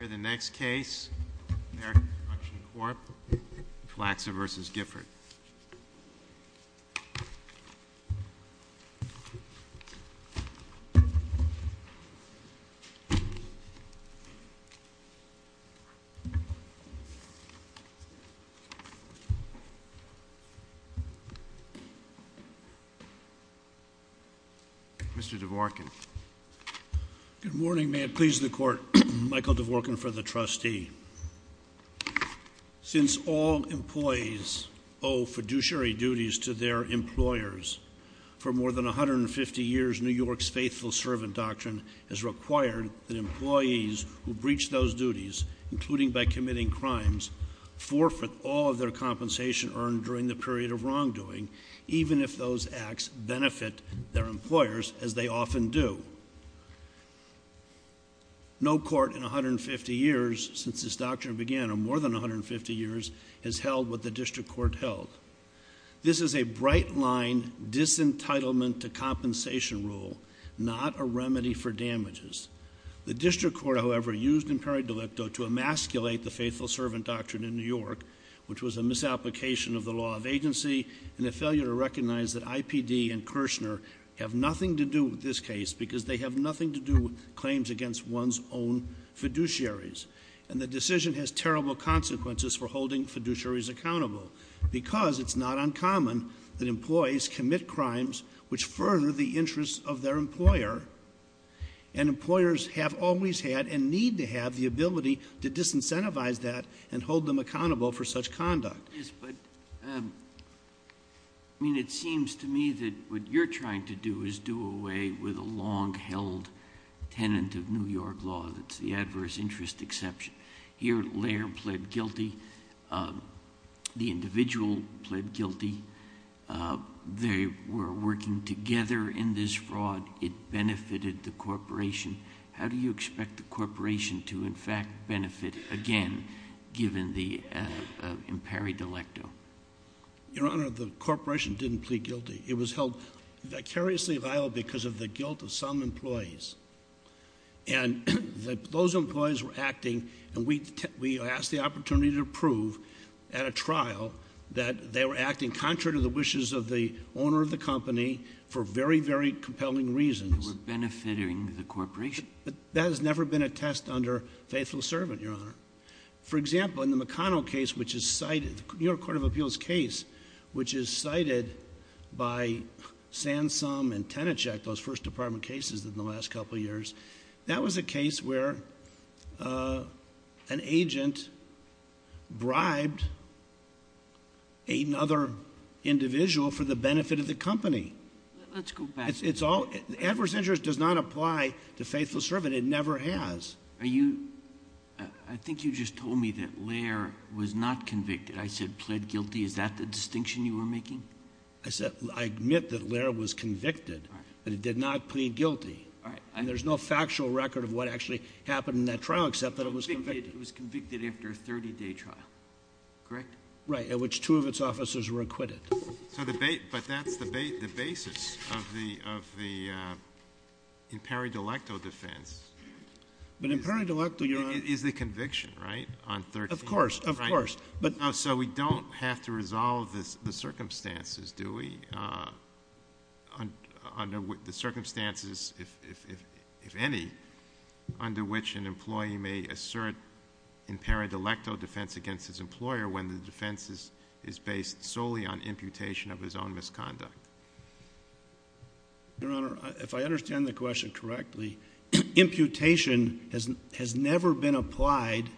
The next case, American Construction Corp., Flaxer v. Gifford. Mr. Dvorkin. Good morning. May it please the Court, Michael Dvorkin for the Trustee. Since all employees owe fiduciary duties to their employers, for more than 150 years, New York's faithful servant doctrine has required that employees who breach those duties, including by committing crimes, forfeit all of their compensation earned during the period of wrongdoing, even if those acts benefit their employers, as they often do. No court in 150 years since this doctrine began, or more than 150 years, has held what the District Court held. This is a bright-line disentitlement-to-compensation rule, not a remedy for damages. The District Court, however, used imperi delicto to emasculate the faithful servant doctrine in New York, which was a misapplication of the law of agency and a failure to recognize that IPD and Kirchner have nothing to do with this case because they have nothing to do with claims against one's own fiduciaries. And the decision has terrible consequences for holding fiduciaries accountable, because it's not uncommon that employees commit crimes which further the interests of their employer, and employers have always had and need to have the ability to disincentivize that and hold them accountable for such conduct. Yes, but I mean, it seems to me that what you're trying to do is do away with a long-held tenant of New York law that's the adverse interest exception. Here, Laird pled guilty, the individual pled guilty. They were working together in this fraud. It benefited the corporation. How do you expect the corporation to, in fact, benefit again, given the imperi delicto? Your Honor, the corporation didn't plead guilty. It was held vicariously liable because of the guilt of some employees. And those employees were acting, and we asked the opportunity to prove at a trial that they were acting contrary to the wishes of the owner of the company for very, very compelling reasons. They were benefiting the corporation. But that has never been attest under faithful servant, Your Honor. For example, in the McConnell case, which is cited, the New York Court of Appeals case, which is cited by Sansom and Tenachek, those first department cases in the last couple years, that was a case where an agent bribed another individual for the benefit of the company. Let's go back. Edward's interest does not apply to faithful servant. It never has. I think you just told me that Laird was not convicted. I said pled guilty. Is that the distinction you were making? I admit that Laird was convicted, but he did not plead guilty. All right. And there's no factual record of what actually happened in that trial except that it was convicted. It was convicted after a 30-day trial, correct? Right, at which two of its officers were acquitted. But that's the basis of the in peri-delecto defense. But in peri-delecto, Your Honor— It is the conviction, right, on 30 days? Of course. So we don't have to resolve the circumstances, do we? The circumstances, if any, under which an employee may assert in peri-delecto defense against his employer when the defense is based solely on imputation of his own misconduct. Your Honor, if I understand the question correctly, imputation has never been applied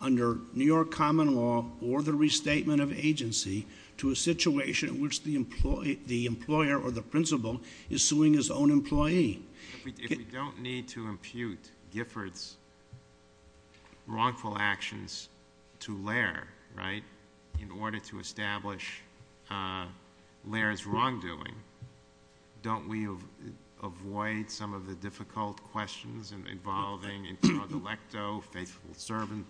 under New York common law or the restatement of agency to a situation in which the employer or the principal is suing his own employee. If we don't need to impute Gifford's wrongful actions to Laird, right, in order to establish Laird's wrongdoing, don't we avoid some of the difficult questions involving in peri-delecto, faithful servant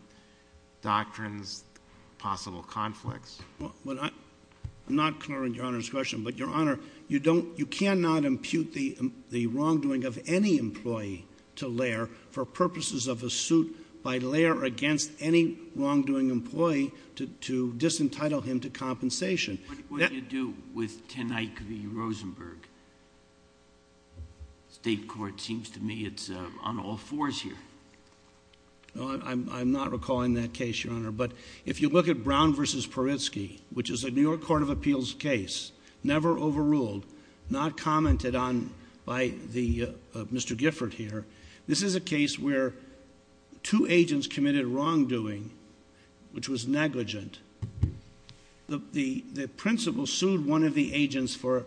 doctrines, possible conflicts? Well, I'm not clear on Your Honor's question. But, Your Honor, you don't — you cannot impute the wrongdoing of any employee to Laird for purposes of a suit by Laird against any wrongdoing employee to disentitle him to compensation. What do you do with Tenike v. Rosenberg? State court seems to me it's on all fours here. I'm not recalling that case, Your Honor. But if you look at Brown v. Paritsky, which is a New York Court of Appeals case, never overruled, not commented on by Mr. Gifford here, this is a case where two agents committed wrongdoing which was negligent. The principal sued one of the agents for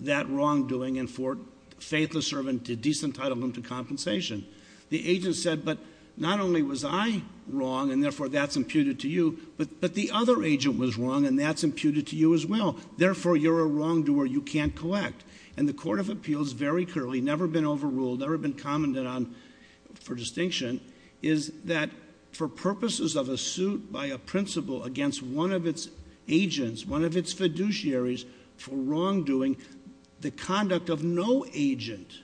that wrongdoing and for faithless servant to disentitle him to compensation. The agent said, but not only was I wrong and, therefore, that's imputed to you, but the other agent was wrong and that's imputed to you as well. Therefore, you're a wrongdoer you can't collect. And the Court of Appeals very clearly, never been overruled, never been commented on for distinction, is that for purposes of a suit by a principal against one of its agents, one of its fiduciaries for wrongdoing, the conduct of no agent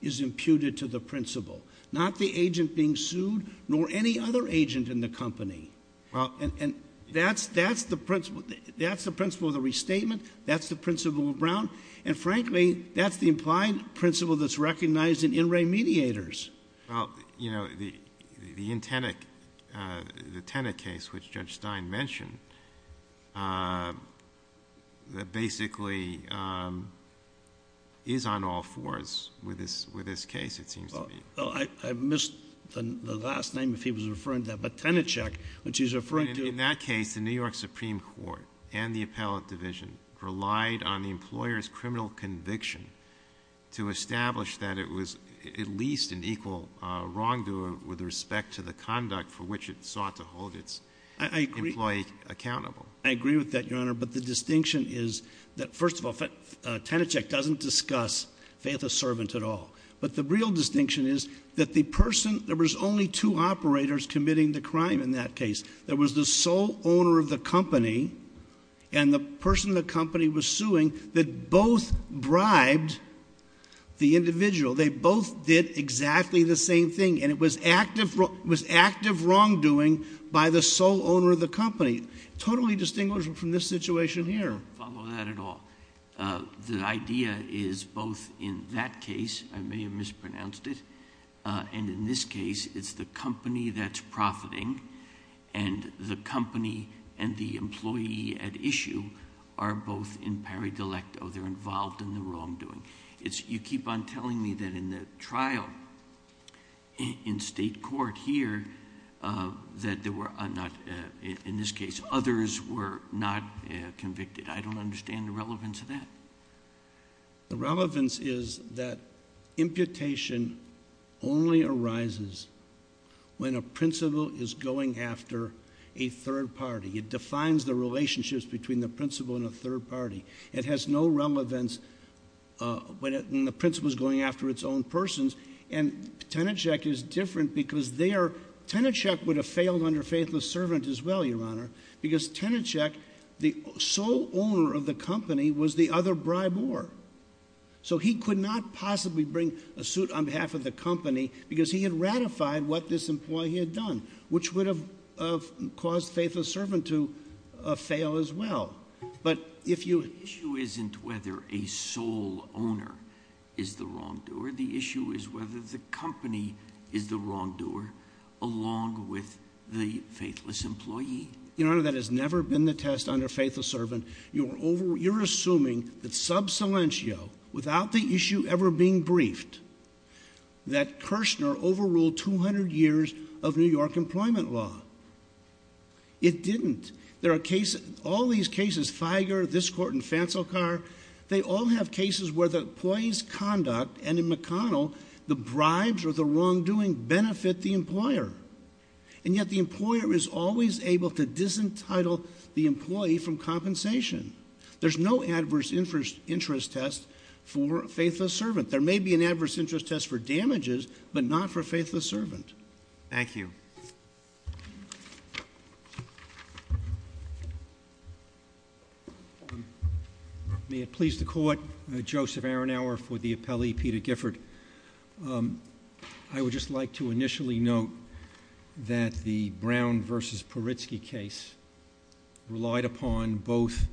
is imputed to the principal. Not the agent being sued nor any other agent in the company. And that's the principle of the restatement. That's the principle of Brown. And, frankly, that's the implied principle that's recognized in in re mediators. Well, you know, the Tenet case, which Judge Stein mentioned, basically is on all fours with this case, it seems to me. I missed the last name if he was referring to that, but Tenet check, which he's referring to. In that case, the New York Supreme Court and the appellate division relied on the employer's criminal conviction to establish that it was at least an equal wrongdoer with respect to the conduct for which it sought to hold its employee accountable. I agree with that, Your Honor. But the distinction is that, first of all, Tenet check doesn't discuss faith of servant at all. But the real distinction is that the person, there was only two operators committing the crime in that case. There was the sole owner of the company and the person the company was suing that both bribed the individual. They both did exactly the same thing. And it was active wrongdoing by the sole owner of the company, totally distinguishable from this situation here. I don't follow that at all. The idea is both in that case, I may have mispronounced it, and in this case, it's the company that's profiting and the company and the employee at issue are both in pari de lecto, they're involved in the wrongdoing. You keep on telling me that in the trial in state court here, that there were not, in this case, others were not convicted. I don't understand the relevance of that. The relevance is that imputation only arises when a principal is going after a third party. It defines the relationships between the principal and a third party. It has no relevance when the principal is going after its own persons. And Tenet check is different because Tenet check would have failed under faith of servant as well, Your Honor, because Tenet check, the sole owner of the company was the other bribe war. So he could not possibly bring a suit on behalf of the company because he had ratified what this employee had done, which would have caused faith of servant to fail as well. But if you- The issue isn't whether a sole owner is the wrongdoer. Where the issue is whether the company is the wrongdoer along with the faithless employee. Your Honor, that has never been the test under faith of servant. You're assuming that sub silentio, without the issue ever being briefed, that Kirshner overruled 200 years of New York employment law. It didn't. There are cases, all these cases, Figer, this court, and Fancelcar, they all have cases where the employee's conduct, and in McConnell, the bribes or the wrongdoing benefit the employer. And yet the employer is always able to disentitle the employee from compensation. There's no adverse interest test for faithless servant. There may be an adverse interest test for damages, but not for faithless servant. Thank you. May it please the court, Joseph Aronauer for the appellee, Peter Gifford. I would just like to initially note that the Brown versus Poritzky case relied upon both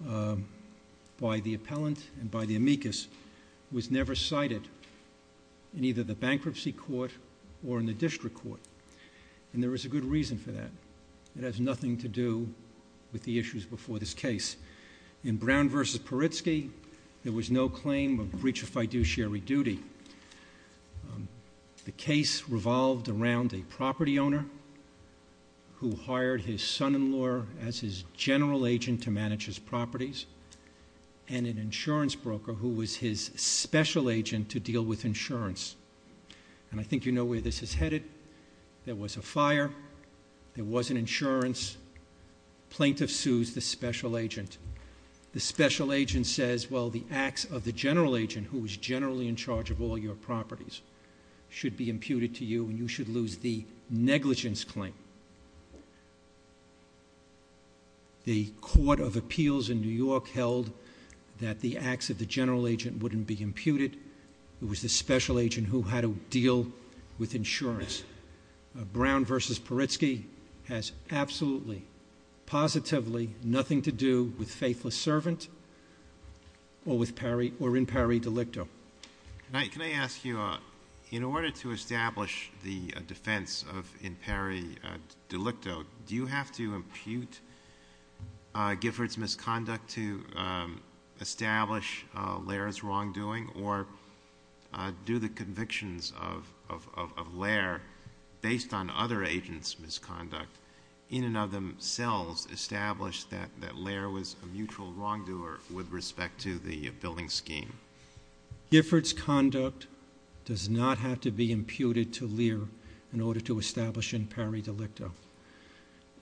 by the appellant and by the amicus, was never cited in either the bankruptcy court or in the district court. And there is a good reason for that. It has nothing to do with the issues before this case. In Brown versus Poritzky, there was no claim of breach of fiduciary duty. The case revolved around a property owner who hired his son-in-law as his general agent to manage his properties, and an insurance broker who was his special agent to deal with insurance. And I think you know where this is headed. There was a fire. There wasn't insurance. Plaintiff sues the special agent. The special agent says, well, the acts of the general agent, who was generally in charge of all your properties, should be imputed to you, and you should lose the negligence claim. The Court of Appeals in New York held that the acts of the general agent wouldn't be imputed. It was the special agent who had to deal with insurance. Brown versus Poritzky has absolutely, positively nothing to do with faithless servant or in pari delicto. Can I ask you, in order to establish the defense of in pari delicto, do you have to impute Gifford's misconduct to establish Lehrer's wrongdoing, or do the convictions of Lehrer, based on other agents' misconduct, in and of themselves establish that Lehrer was a mutual wrongdoer with respect to the billing scheme? Gifford's conduct does not have to be imputed to Lehrer in order to establish in pari delicto.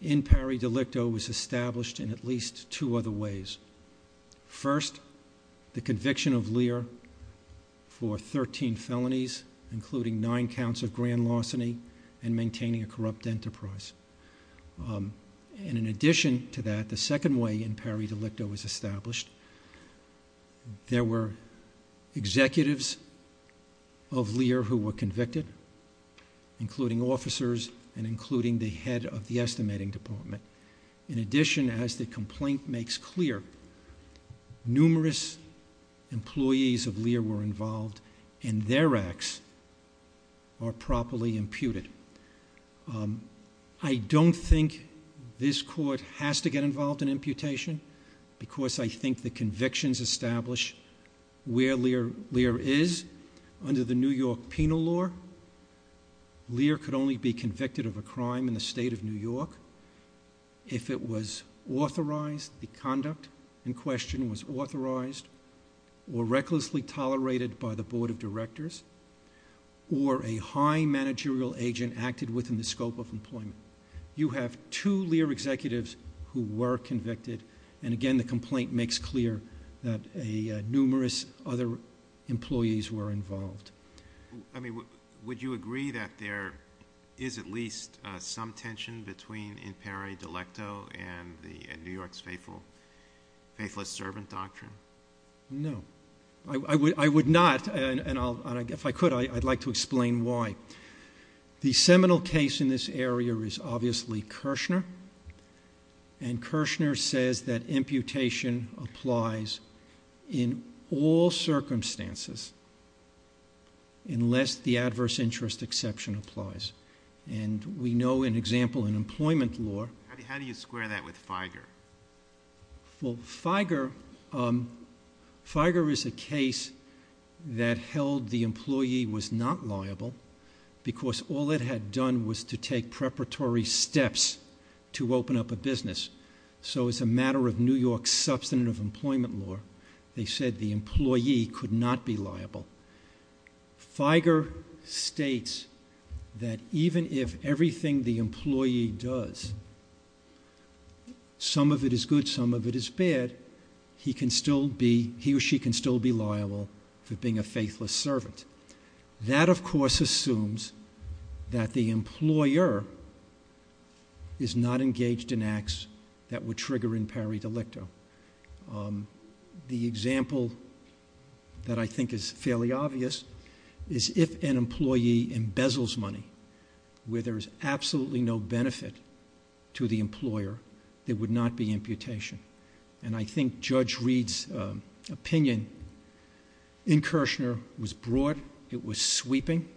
In pari delicto was established in at least two other ways. First, the conviction of Lehrer for 13 felonies, including nine counts of grand larceny, and maintaining a corrupt enterprise. And in addition to that, the second way in pari delicto was established. There were executives of Lehrer who were convicted, including officers and including the head of the estimating department. In addition, as the complaint makes clear, numerous employees of Lehrer were involved, and their acts are properly imputed. I don't think this court has to get involved in imputation, because I think the convictions establish where Lehrer is under the New York penal law. Lehrer could only be convicted of a crime in the state of New York if it was authorized, the conduct in question was authorized, or recklessly tolerated by the board of directors, or a high managerial agent acted within the scope of employment. You have two Lehrer executives who were convicted, and again the complaint makes clear that numerous other employees were involved. I mean, would you agree that there is at least some tension between in pari delicto and New York's faithless servant doctrine? No. I would not, and if I could, I'd like to explain why. The seminal case in this area is obviously Kirshner, and Kirshner says that imputation applies in all circumstances unless the adverse interest exception applies. And we know an example in employment law. How do you square that with Feiger? Well, Feiger is a case that held the employee was not liable, because all it had done was to take preparatory steps to open up a business. So as a matter of New York's substantive employment law, they said the employee could not be liable. Feiger states that even if everything the employee does, some of it is good, some of it is bad, he or she can still be liable for being a faithless servant. That, of course, assumes that the employer is not engaged in acts that would trigger in pari delicto. The example that I think is fairly obvious is if an employee embezzles money where there is absolutely no benefit to the employer, there would not be imputation. And I think Judge Reed's opinion in Kirshner was broad. It was sweeping.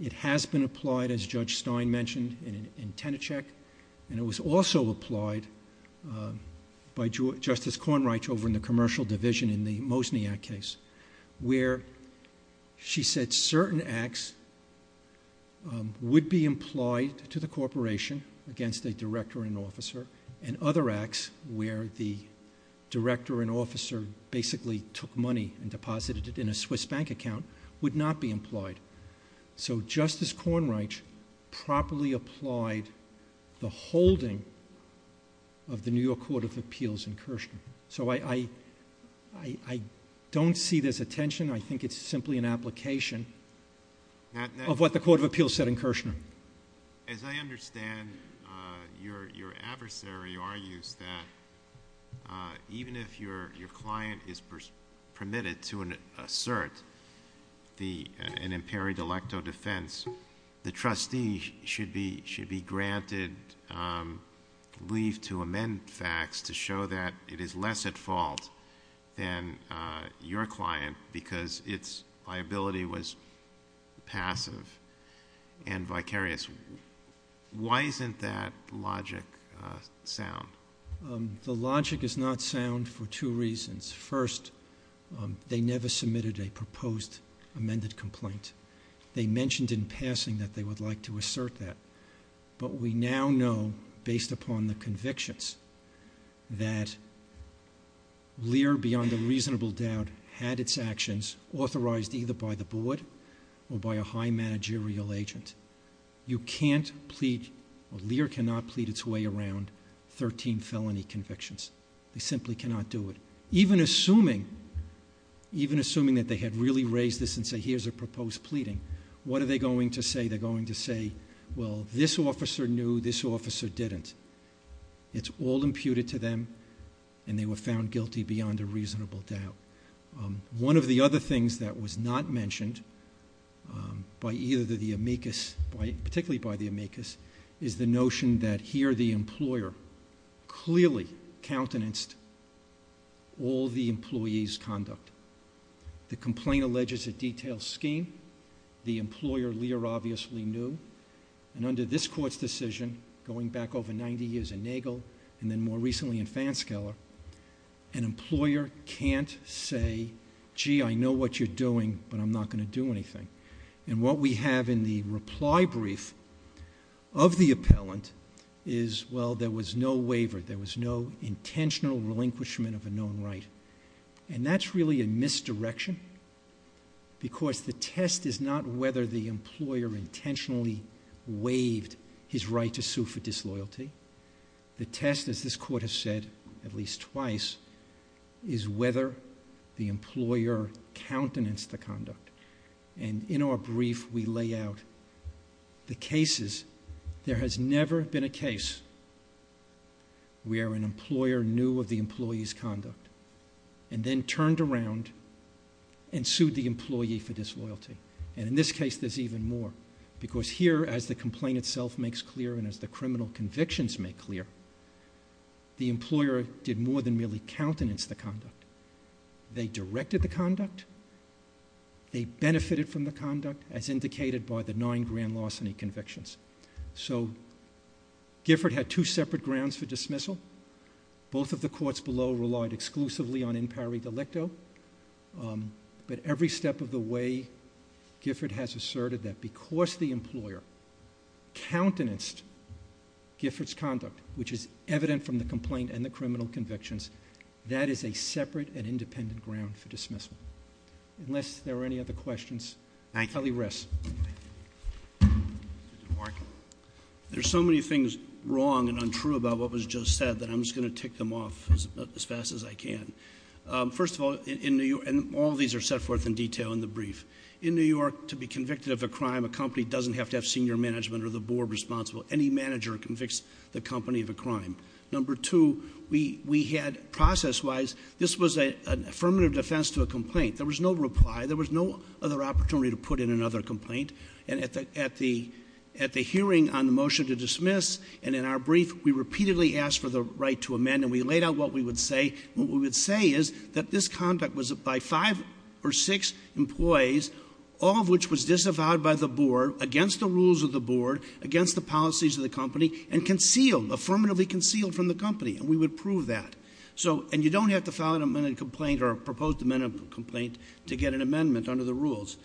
It has been applied, as Judge Stein mentioned, in Tenercheck, and it was also applied by Justice Cornreich over in the commercial division in the Mosniak case, where she said certain acts would be implied to the corporation against a director and officer, and other acts where the director and officer basically took money and deposited it in a Swiss bank account would not be implied. So Justice Cornreich properly applied the holding of the New York Court of Appeals in Kirshner. So I don't see this attention. I think it's simply an application of what the Court of Appeals said in Kirshner. As I understand, your adversary argues that even if your client is permitted to assert an in pari delicto defense, the trustee should be granted leave to amend facts to show that it is less at fault than your client because its liability was passive and vicarious. Why isn't that logic sound? The logic is not sound for two reasons. First, they never submitted a proposed amended complaint. They mentioned in passing that they would like to assert that. But we now know, based upon the convictions, that Lear, beyond a reasonable doubt, had its actions authorized either by the board or by a high managerial agent. You can't plead or Lear cannot plead its way around 13 felony convictions. They simply cannot do it. Even assuming that they had really raised this and said, here's a proposed pleading, what are they going to say? They're going to say, well, this officer knew, this officer didn't. It's all imputed to them, and they were found guilty beyond a reasonable doubt. One of the other things that was not mentioned by either the amicus, particularly by the amicus, is the notion that here the employer clearly countenanced all the employee's conduct. The complaint alleges a detailed scheme. The employer, Lear, obviously knew. And under this court's decision, going back over 90 years in Nagel and then more recently in Fanskeller, an employer can't say, gee, I know what you're doing, but I'm not going to do anything. And what we have in the reply brief of the appellant is, well, there was no waiver. There was no intentional relinquishment of a known right. And that's really a misdirection, because the test is not whether the employer intentionally waived his right to sue for disloyalty. The test, as this court has said at least twice, is whether the employer countenanced the conduct. And in our brief, we lay out the cases. There has never been a case where an employer knew of the employee's conduct and then turned around and sued the employee for disloyalty. And in this case, there's even more, because here, as the complaint itself makes clear and as the criminal convictions make clear, the employer did more than merely countenance the conduct. They directed the conduct. They benefited from the conduct, as indicated by the nine grand larceny convictions. So Gifford had two separate grounds for dismissal. Both of the courts below relied exclusively on impari delicto. But every step of the way, Gifford has asserted that because the employer countenanced Gifford's conduct, which is evident from the complaint and the criminal convictions, that is a separate and independent ground for dismissal. Unless there are any other questions. Kelly Ress. There's so many things wrong and untrue about what was just said that I'm just going to tick them off as fast as I can. First of all, in New York, and all these are set forth in detail in the brief, in New York, to be convicted of a crime, a company doesn't have to have senior management or the board responsible. Any manager convicts the company of a crime. Number two, we had process-wise, this was an affirmative defense to a complaint. There was no reply. There was no other opportunity to put in another complaint. And at the hearing on the motion to dismiss, and in our brief, we repeatedly asked for the right to amend. And we laid out what we would say. What we would say is that this conduct was by five or six employees, all of which was disavowed by the board against the rules of the board, against the policies of the company, and concealed, affirmatively concealed from the company. And we would prove that. And you don't have to file an amended complaint or a proposed amended complaint to get an amendment under the rules.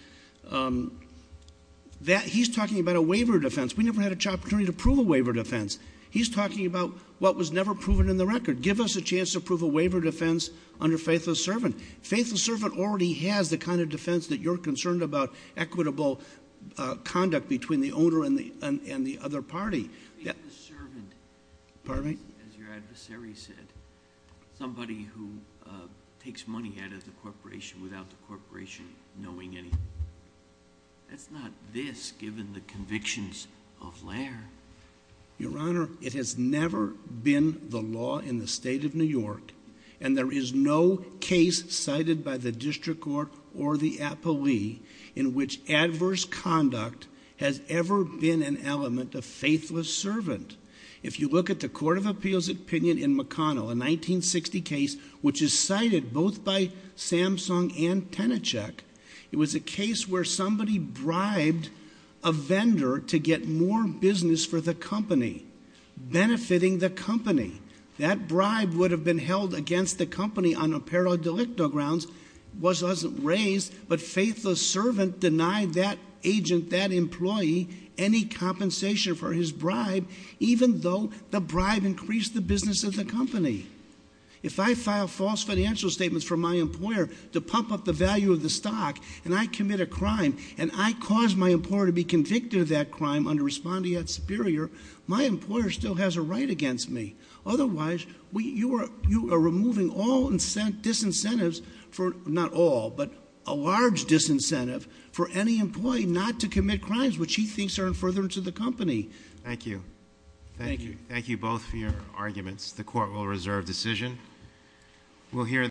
He's talking about a waiver defense. We never had an opportunity to prove a waiver defense. He's talking about what was never proven in the record. Give us a chance to prove a waiver defense under faithless servant. Faithless servant already has the kind of defense that you're concerned about, equitable conduct between the owner and the other party. Faithless servant. Pardon me? As your adversary said. Somebody who takes money out of the corporation without the corporation knowing anything. That's not this, given the convictions of Laird. Your Honor, it has never been the law in the state of New York, and there is no case cited by the district court or the appellee in which adverse conduct has ever been an element of faithless servant. If you look at the court of appeals opinion in McConnell, a 1960 case, which is cited both by Samsung and Tennecheck, it was a case where somebody bribed a vendor to get more business for the company, benefiting the company. That bribe would have been held against the company on apparel delicto grounds. It wasn't raised, but faithless servant denied that agent, that employee, any compensation for his bribe, even though the bribe increased the business of the company. If I file false financial statements for my employer to pump up the value of the stock, and I commit a crime, and I cause my employer to be convicted of that crime under respondeat superior, my employer still has a right against me. Otherwise, you are removing all disincentives for, not all, but a large disincentive for any employee not to commit crimes which he thinks are in furtherance of the company. Thank you. Thank you. Thank you both for your arguments. The court will reserve decision.